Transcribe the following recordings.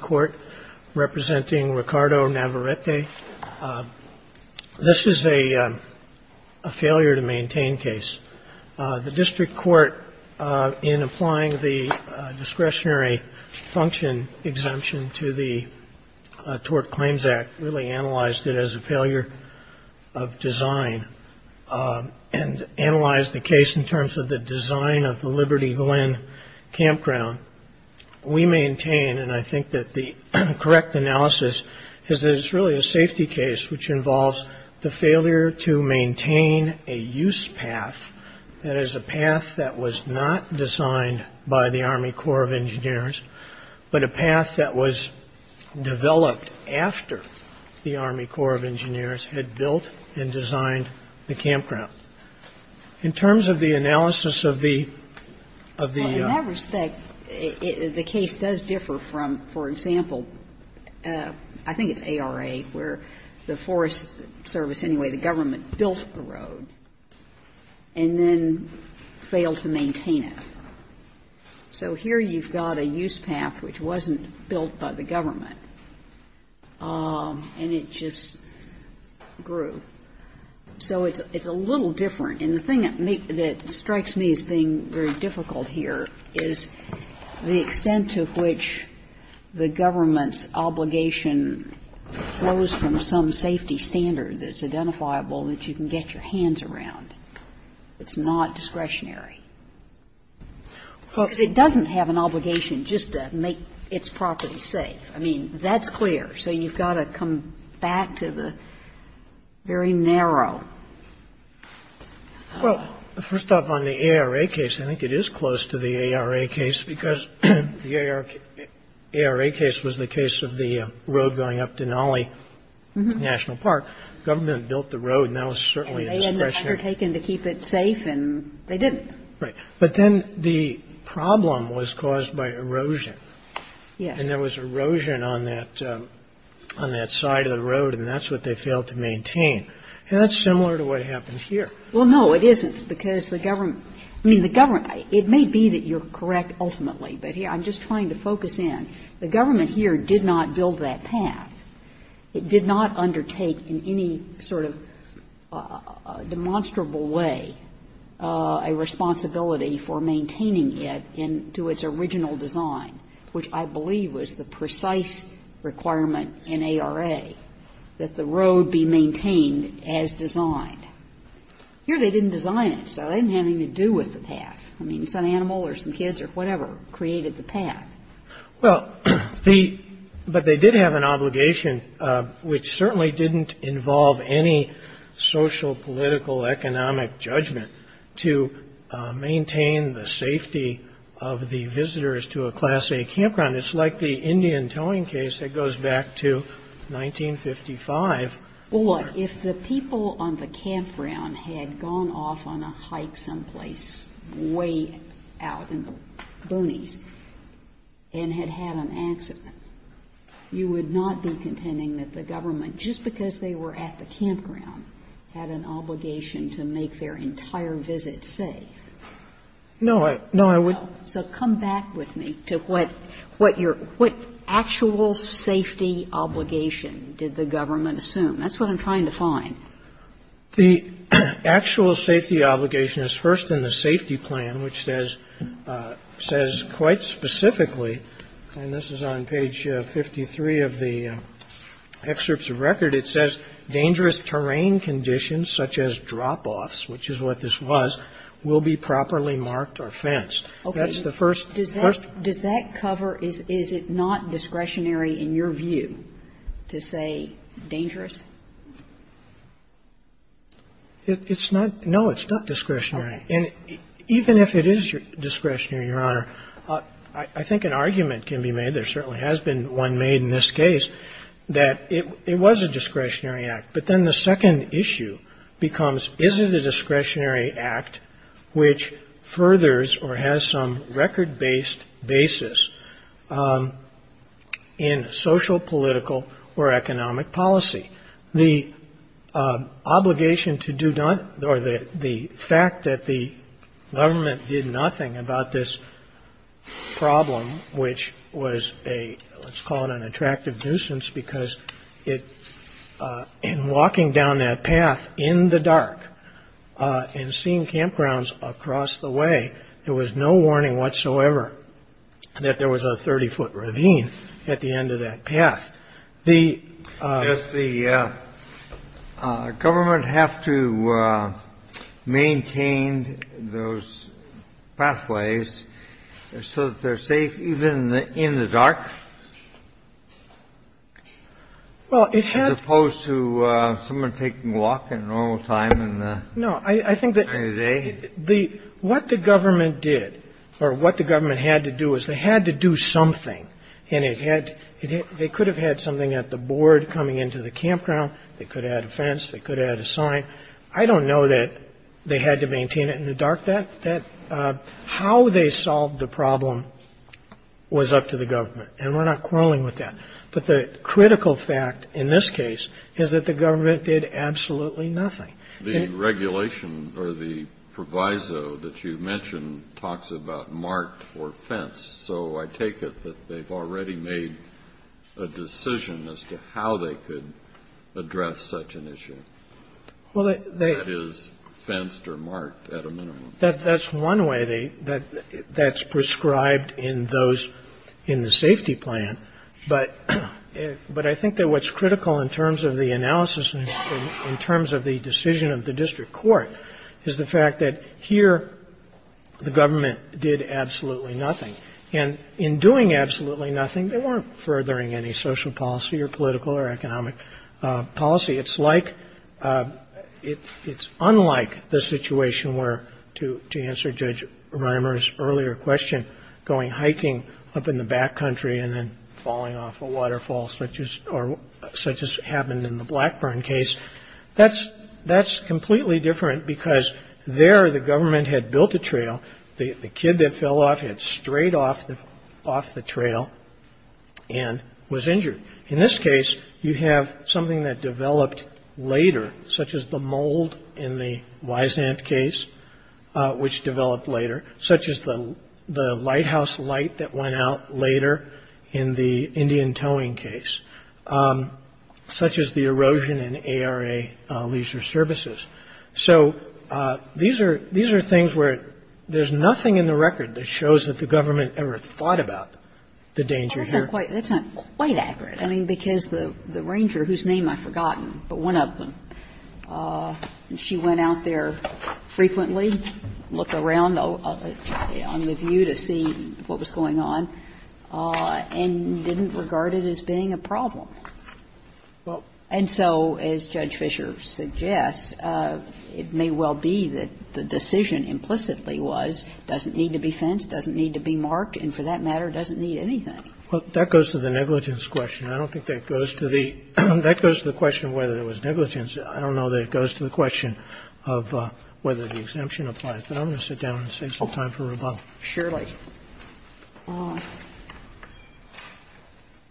Court, representing Ricardo Navarrette. This is a failure-to-maintain case. The district court, in applying the discretionary function exemption to the Tort Claims Act, really analyzed it as a failure of design and analyzed the case in terms of the design of the Liberty Glen campground. We maintain, and I think that the correct analysis is that it's really a safety case, which involves the failure to maintain a use path, that is a path that was not designed by the Army Corps of Engineers, but a path that was developed after the Army Corps of Engineers had built and designed the campground. In terms of the analysis of the of the Well, in that respect, the case does differ from, for example, I think it's ARA, where the Forest Service, anyway, the government, built a road and then failed to maintain it. So here you've got a use path which wasn't built by the government, and it just grew. So it's a little different. And the thing that strikes me as being very difficult here is the extent to which the government's obligation flows from some safety standard that's identifiable that you can get your hands around. It's not discretionary. Because it doesn't have an obligation just to make its property safe. I mean, that's clear. So you've got to come back to the very narrow. Well, first off, on the ARA case, I think it is close to the ARA case, because the ARA case was the case of the road going up Denali National Park. The government built the road, and that was certainly discretionary. And they had undertaken to keep it safe, and they didn't. Right. But then the problem was caused by erosion. Yes. And there was erosion on that side of the road, and that's what they failed to maintain. And that's similar to what happened here. Well, no, it isn't, because the government – I mean, the government – it may be that you're correct ultimately, but I'm just trying to focus in. The government here did not build that path. It did not undertake in any sort of demonstrable way a responsibility for maintaining it into its original design, which I believe was the precise requirement in ARA, that the road be maintained as designed. Here they didn't design it, so it didn't have anything to do with the path. I mean, some animal or some kids or whatever created the path. Well, the – but they did have an obligation, which certainly didn't involve any social, political, economic judgment, to maintain the safety of the visitors to a Class A campground. It's like the Indian towing case that goes back to 1955. Well, if the people on the campground had gone off on a hike someplace way out in the boonies and had had an accident, you would not be contending that the government, just because they were at the campground, had an obligation to make their entire visit safe. No, I would not. So come back with me to what your – what actual safety obligation did the government assume? That's what I'm trying to find. The actual safety obligation is first in the safety plan, which says quite specifically and this is on page 53 of the excerpts of record, it says, dangerous terrain conditions such as drop-offs, which is what this was, will be properly marked or fenced. Okay. That's the first – first. Does that cover – is it not discretionary in your view to say dangerous? It's not – no, it's not discretionary. Okay. And even if it is discretionary, Your Honor, I think an argument can be made, there certainly has been one made in this case, that it was a discretionary act, but then the second issue becomes, is it a discretionary act which furthers or has some record-based basis in social, political, or economic policy? The obligation to do – or the fact that the government did nothing about this problem, which was a – let's call it an attractive nuisance because it – in walking down that path in the dark and seeing campgrounds across the way, there was no warning whatsoever that there was a 30-foot ravine at the end of that path. The – Does the government have to maintain those pathways so that they're safe even in the dark? Well, it had to. As opposed to someone taking a walk in normal time in the day? No. I think that the – what the government did or what the government had to do is they could have had something at the board coming into the campground. They could have had a fence. They could have had a sign. I don't know that they had to maintain it in the dark. That – how they solved the problem was up to the government, and we're not quarreling with that. But the critical fact in this case is that the government did absolutely nothing. The regulation or the proviso that you mentioned talks about marked or fence, so I take it that they've already made a decision as to how they could address such an issue. Well, they – That is fenced or marked at a minimum. That's one way they – that's prescribed in those in the safety plan, but I think that what's critical in terms of the analysis and in terms of the decision of the district court is the fact that here the government did absolutely nothing. And in doing absolutely nothing, they weren't furthering any social policy or political or economic policy. It's like – it's unlike the situation where, to answer Judge Reimer's earlier question, going hiking up in the backcountry and then falling off a waterfall such as happened in the Blackburn case. That's completely different because there the government had built a trail. The kid that fell off had strayed off the trail and was injured. In this case, you have something that developed later, such as the mold in the Wise Ant case, which developed later, such as the lighthouse light that went out later in the Indian Towing case, such as the erosion in ARA Leisure Services. So these are – these are things where there's nothing in the record that shows that the government ever thought about the danger here. That's not quite – that's not quite accurate. I mean, because the ranger, whose name I've forgotten, but one of them, she went out there frequently, looked around on the view to see what was going on, and didn't find anything that was regarded as being a problem. And so, as Judge Fischer suggests, it may well be that the decision implicitly was, doesn't need to be fenced, doesn't need to be marked, and for that matter, doesn't need anything. Well, that goes to the negligence question. I don't think that goes to the – that goes to the question of whether it was negligence. I don't know that it goes to the question of whether the exemption applies. But I'm going to sit down and save some time for rebuttal. Surely.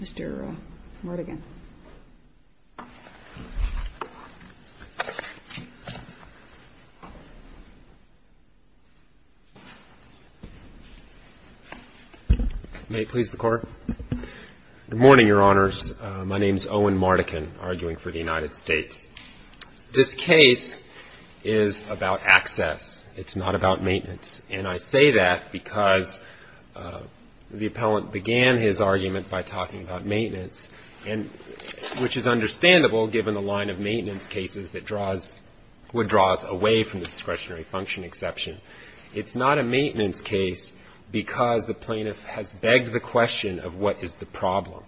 Mr. Mardigan. May it please the Court. Good morning, Your Honors. My name is Owen Mardigan, arguing for the United States. This case is about access. It's not about maintenance. And I say that because the appellant began his argument by talking about maintenance, which is understandable given the line of maintenance cases that draws – would draw us away from the discretionary function exception. It's not a maintenance case because the plaintiff has begged the question of what is the problem.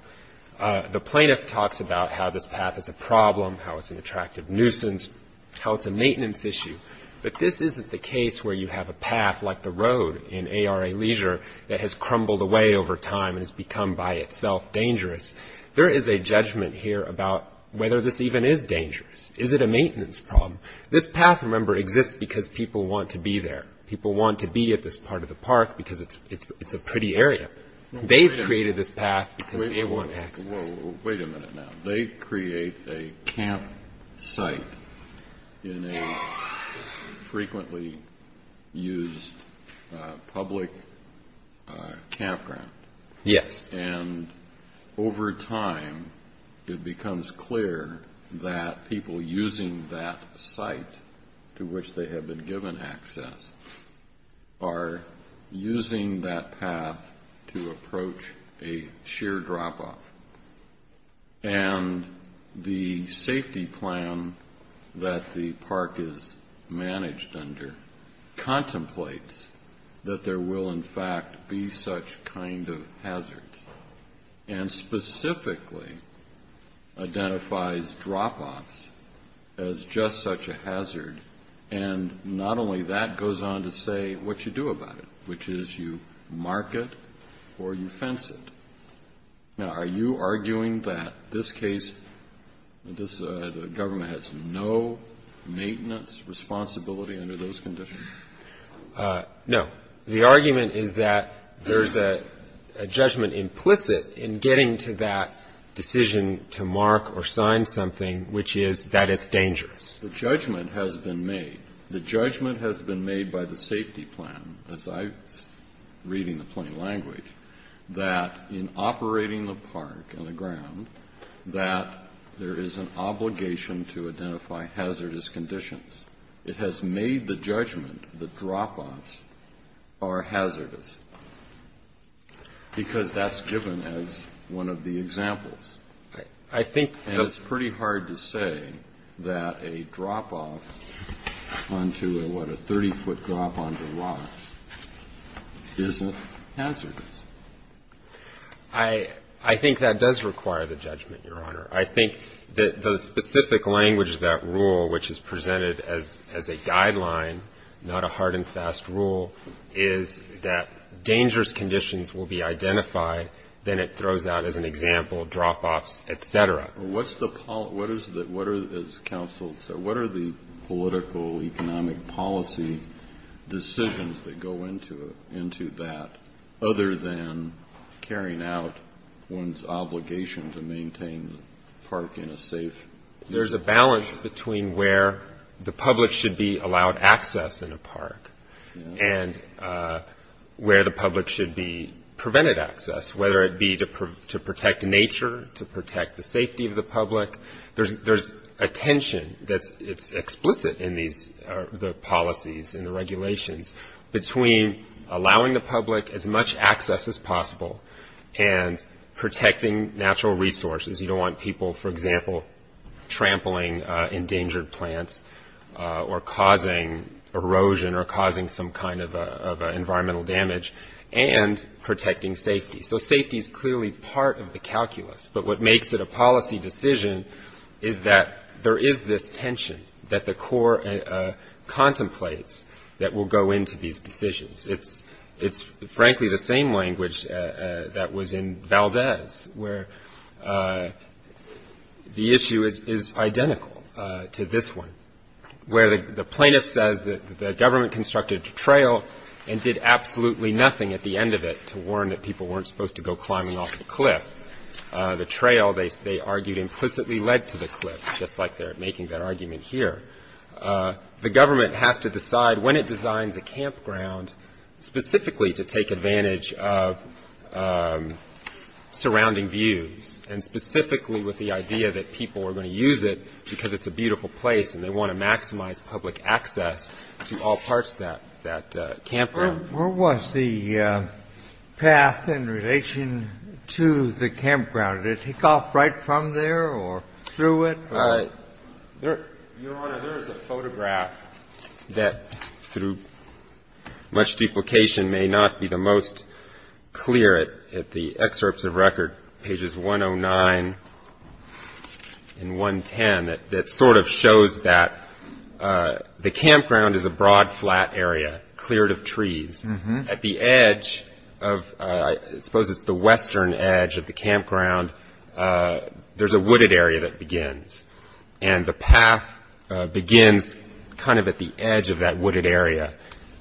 The plaintiff talks about how this path is a problem, how it's an attractive nuisance, how it's a maintenance issue. But this isn't the case where you have a path like the road in ARA Leisure that has crumbled away over time and has become by itself dangerous. There is a judgment here about whether this even is dangerous. Is it a maintenance problem? This path, remember, exists because people want to be there. People want to be at this part of the park because it's a pretty area. They've created this path because they want access. Wait a minute now. They create a camp site in a frequently used public campground. Yes. And over time, it becomes clear that people using that site to which they have been given access are using that path to approach a sheer drop-off. And the safety plan that the park is managed under contemplates that there will, in fact, be such kind of hazards and specifically identifies drop-offs as just such a hazard. And not only that, it goes on to say what you do about it, which is you mark it or you fence it. Now, are you arguing that this case, the government has no maintenance responsibility under those conditions? No. The argument is that there's a judgment implicit in getting to that decision to mark or sign something, which is that it's dangerous. The judgment has been made. The judgment has been made by the safety plan, as I'm reading the plain language, that in operating the park and the ground, that there is an obligation to identify hazardous conditions. It has made the judgment that drop-offs are hazardous because that's given as one of the examples. And it's pretty hard to say that a drop-off onto a, what, a 30-foot drop onto a rock isn't hazardous. I think that does require the judgment, Your Honor. I think that the specific language of that rule, which is presented as a guideline, not a hard and fast rule, is that dangerous conditions will be identified, then it throws out as an example drop-offs, et cetera. What's the, what is the, what are, as counsel said, what are the political economic policy decisions that go into that, other than carrying out one's obligation to maintain the park in a safe? There's a balance between where the public should be allowed access in a park and where the public should be prevented access, whether it be to protect nature, to protect the safety of the public. There's a tension that's explicit in these, the policies and the regulations, between allowing the public as much access as possible and protecting natural resources. You don't want people, for example, trampling endangered plants or causing erosion or causing some kind of environmental damage, and protecting safety. So safety is clearly part of the calculus, but what makes it a policy decision is that there is this tension that the Corps contemplates that will go into these decisions. It's frankly the same language that was in Valdez, where the issue is identical to this one, where the plaintiff says that the government constructed a trail and did absolutely nothing at the end of it to warn that people weren't supposed to go climbing off the cliff. The trail, they argued, implicitly led to the cliff, just like they're making that argument here. The government has to decide when it designs a campground specifically to take advantage of surrounding views and specifically with the idea that people are going to use it because it's a beautiful place and they want to maximize public access to all parts of that campground. Where was the path in relation to the campground? Did it kick off right from there or through it? Your Honor, there is a photograph that, through much duplication, may not be the most clear at the excerpts of record, pages 109 and 110, that sort of shows that the campground is a broad, flat area cleared of trees. At the edge of, I suppose it's the western edge of the campground, there's a wooded area that begins. And the path begins kind of at the edge of that wooded area,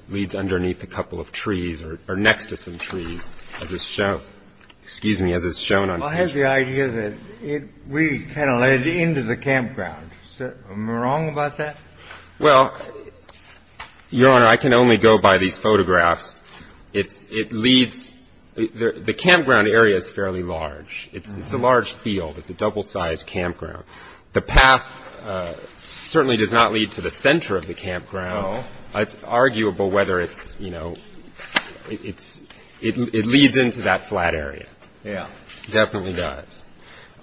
leads underneath a couple of trees or next to some trees, as is shown. Excuse me, as is shown on the picture. Well, I have the idea that we kind of led into the campground. Am I wrong about that? Well, Your Honor, I can only go by these photographs. It leads, the campground area is fairly large. It's a large field. It's a double-sized campground. The path certainly does not lead to the center of the campground. No. It's arguable whether it's, you know, it leads into that flat area. Yeah. It definitely does.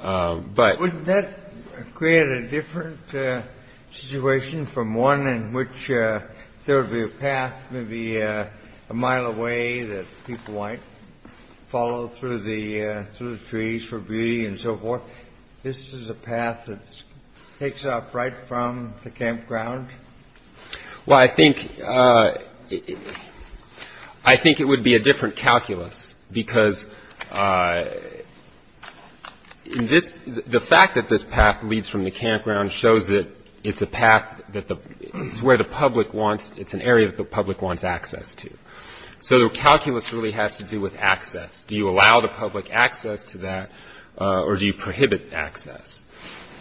Wouldn't that create a different situation from one in which there would be a path maybe a mile away that people might follow through the trees for beauty and so forth? This is a path that takes off right from the campground? Well, I think it would be a different calculus because the fact that this path leads from the campground shows that it's a path that the, it's where the public wants, it's an area that the public wants access to. So the calculus really has to do with access. Do you allow the public access to that or do you prohibit access?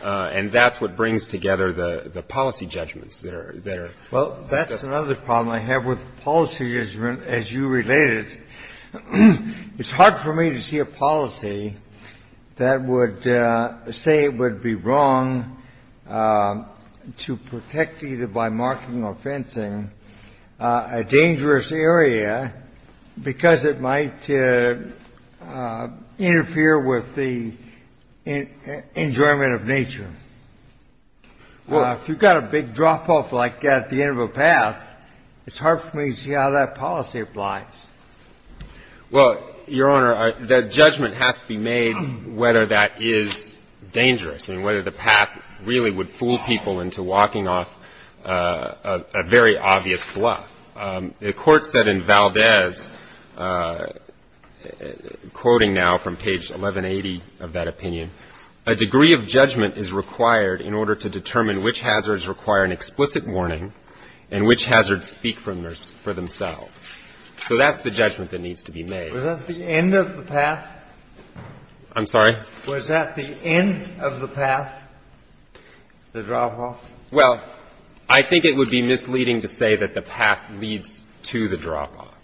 And that's what brings together the policy judgments that are discussed. Well, that's another problem I have with policy as you relate it. It's hard for me to see a policy that would say it would be wrong to protect either by marking or fencing a dangerous area because it might interfere with the enjoyment of nature. Well, if you've got a big drop-off like at the end of a path, it's hard for me to see how that policy applies. Well, Your Honor, the judgment has to be made whether that is dangerous and whether the path really would fool people into walking off a very obvious bluff. The Court said in Valdez, quoting now from page 1180 of that opinion, a degree of judgment is required in order to determine which hazards require an explicit warning and which hazards speak for themselves. So that's the judgment that needs to be made. Was that the end of the path? I'm sorry? Was that the end of the path, the drop-off? Well, I think it would be misleading to say that the path leads to the drop-off.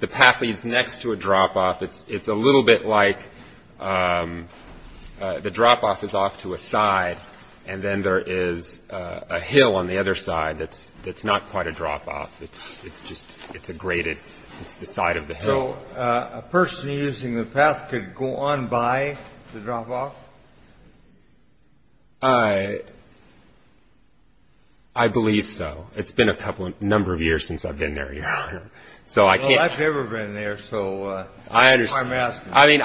The path leads next to a drop-off. It's a little bit like the drop-off is off to a side and then there is a hill on the other side that's not quite a drop-off. It's just a graded, it's the side of the hill. So a person using the path could go on by the drop-off? I believe so. It's been a number of years since I've been there, Your Honor. Well, I've never been there, so that's why I'm asking. I mean,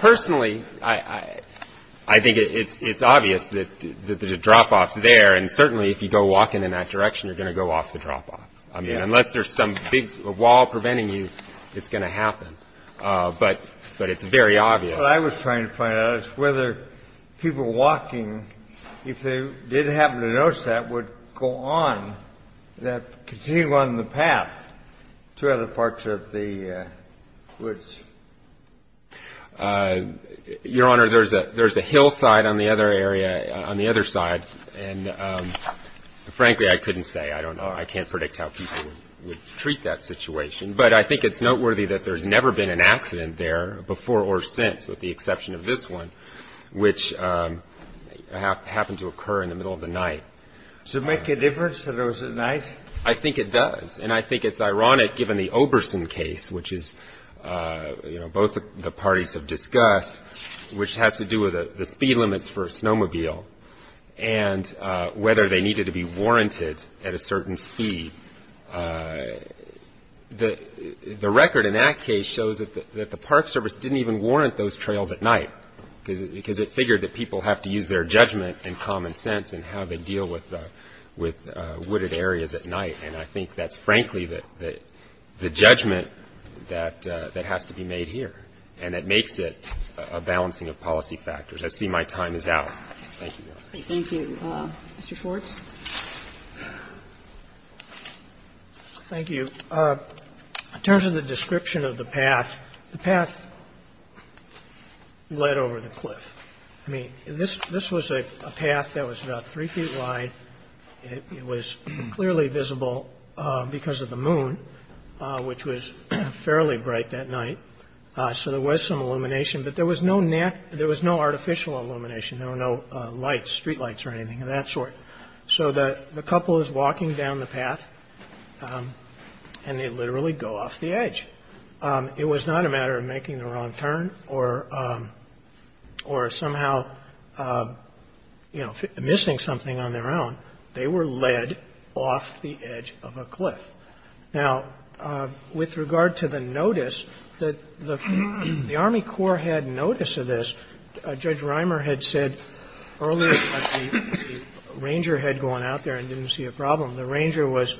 personally, I think it's obvious that the drop-off is there, and certainly if you go walking in that direction, you're going to go off the drop-off. I mean, unless there's some big wall preventing you, it's going to happen, but it's very obvious. What I was trying to find out is whether people walking, if they did happen to notice that, would go on, continue on the path to other parts of the woods. Your Honor, there's a hillside on the other side, and frankly, I couldn't say. I can't predict how people would treat that situation. But I think it's noteworthy that there's never been an accident there before or since, with the exception of this one, which happened to occur in the middle of the night. Does it make a difference to those at night? I think it does, and I think it's ironic, given the Oberson case, which is, you know, both the parties have discussed, which has to do with the speed limits for a snowmobile and whether they needed to be warranted at a certain speed. The record in that case shows that the Park Service didn't even warrant those trails at night, because it figured that people have to use their judgment and common sense in how they deal with wooded areas at night, and I think that's, frankly, the judgment that has to be made here, and that makes it a balancing of policy factors. I see my time is out. Thank you, Your Honor. Kagan. Thank you. Mr. Schwartz. Schwartz. Thank you. In terms of the description of the path, the path led over the cliff. I mean, this was a path that was about 3 feet wide. It was clearly visible because of the moon, which was fairly bright that night, so there was some illumination, but there was no artificial illumination. There were no lights, street lights or anything of that sort. So the couple is walking down the path, and they literally go off the edge. It was not a matter of making the wrong turn or somehow, you know, missing something on their own. They were led off the edge of a cliff. Now, with regard to the notice, the Army Corps had notice of this. Judge Reimer had said earlier that the ranger had gone out there and didn't see a problem. The ranger was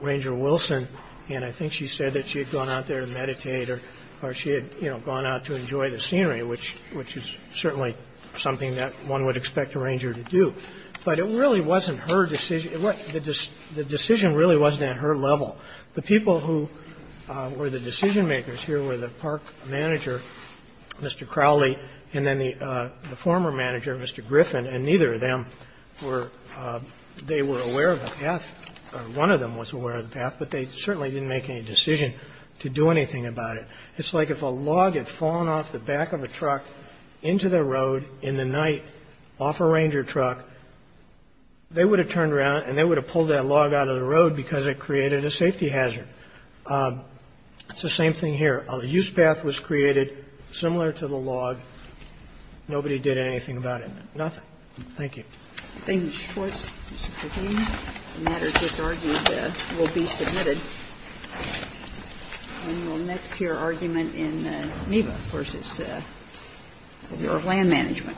Ranger Wilson, and I think she said that she had gone out there to meditate or she had, you know, gone out to enjoy the scenery, which is certainly something that one would expect a ranger to do. But it really wasn't her decision. The decision really wasn't at her level. The people who were the decision-makers here were the park manager, Mr. Crowley, and then the former manager, Mr. Griffin, and neither of them were they were aware of the path or one of them was aware of the path, but they certainly didn't make any decision to do anything about it. It's like if a log had fallen off the back of a truck into the road in the night off a ranger truck, they would have turned around and they would have pulled that log out of the road because it created a safety hazard. It's the same thing here. A use path was created similar to the log. Nobody did anything about it. Nothing. Thank you. Thank you, Mr. Schwartz, Mr. Griffin. The matter just argued will be submitted. And we'll next hear argument in NEBA versus the Bureau of Land Management.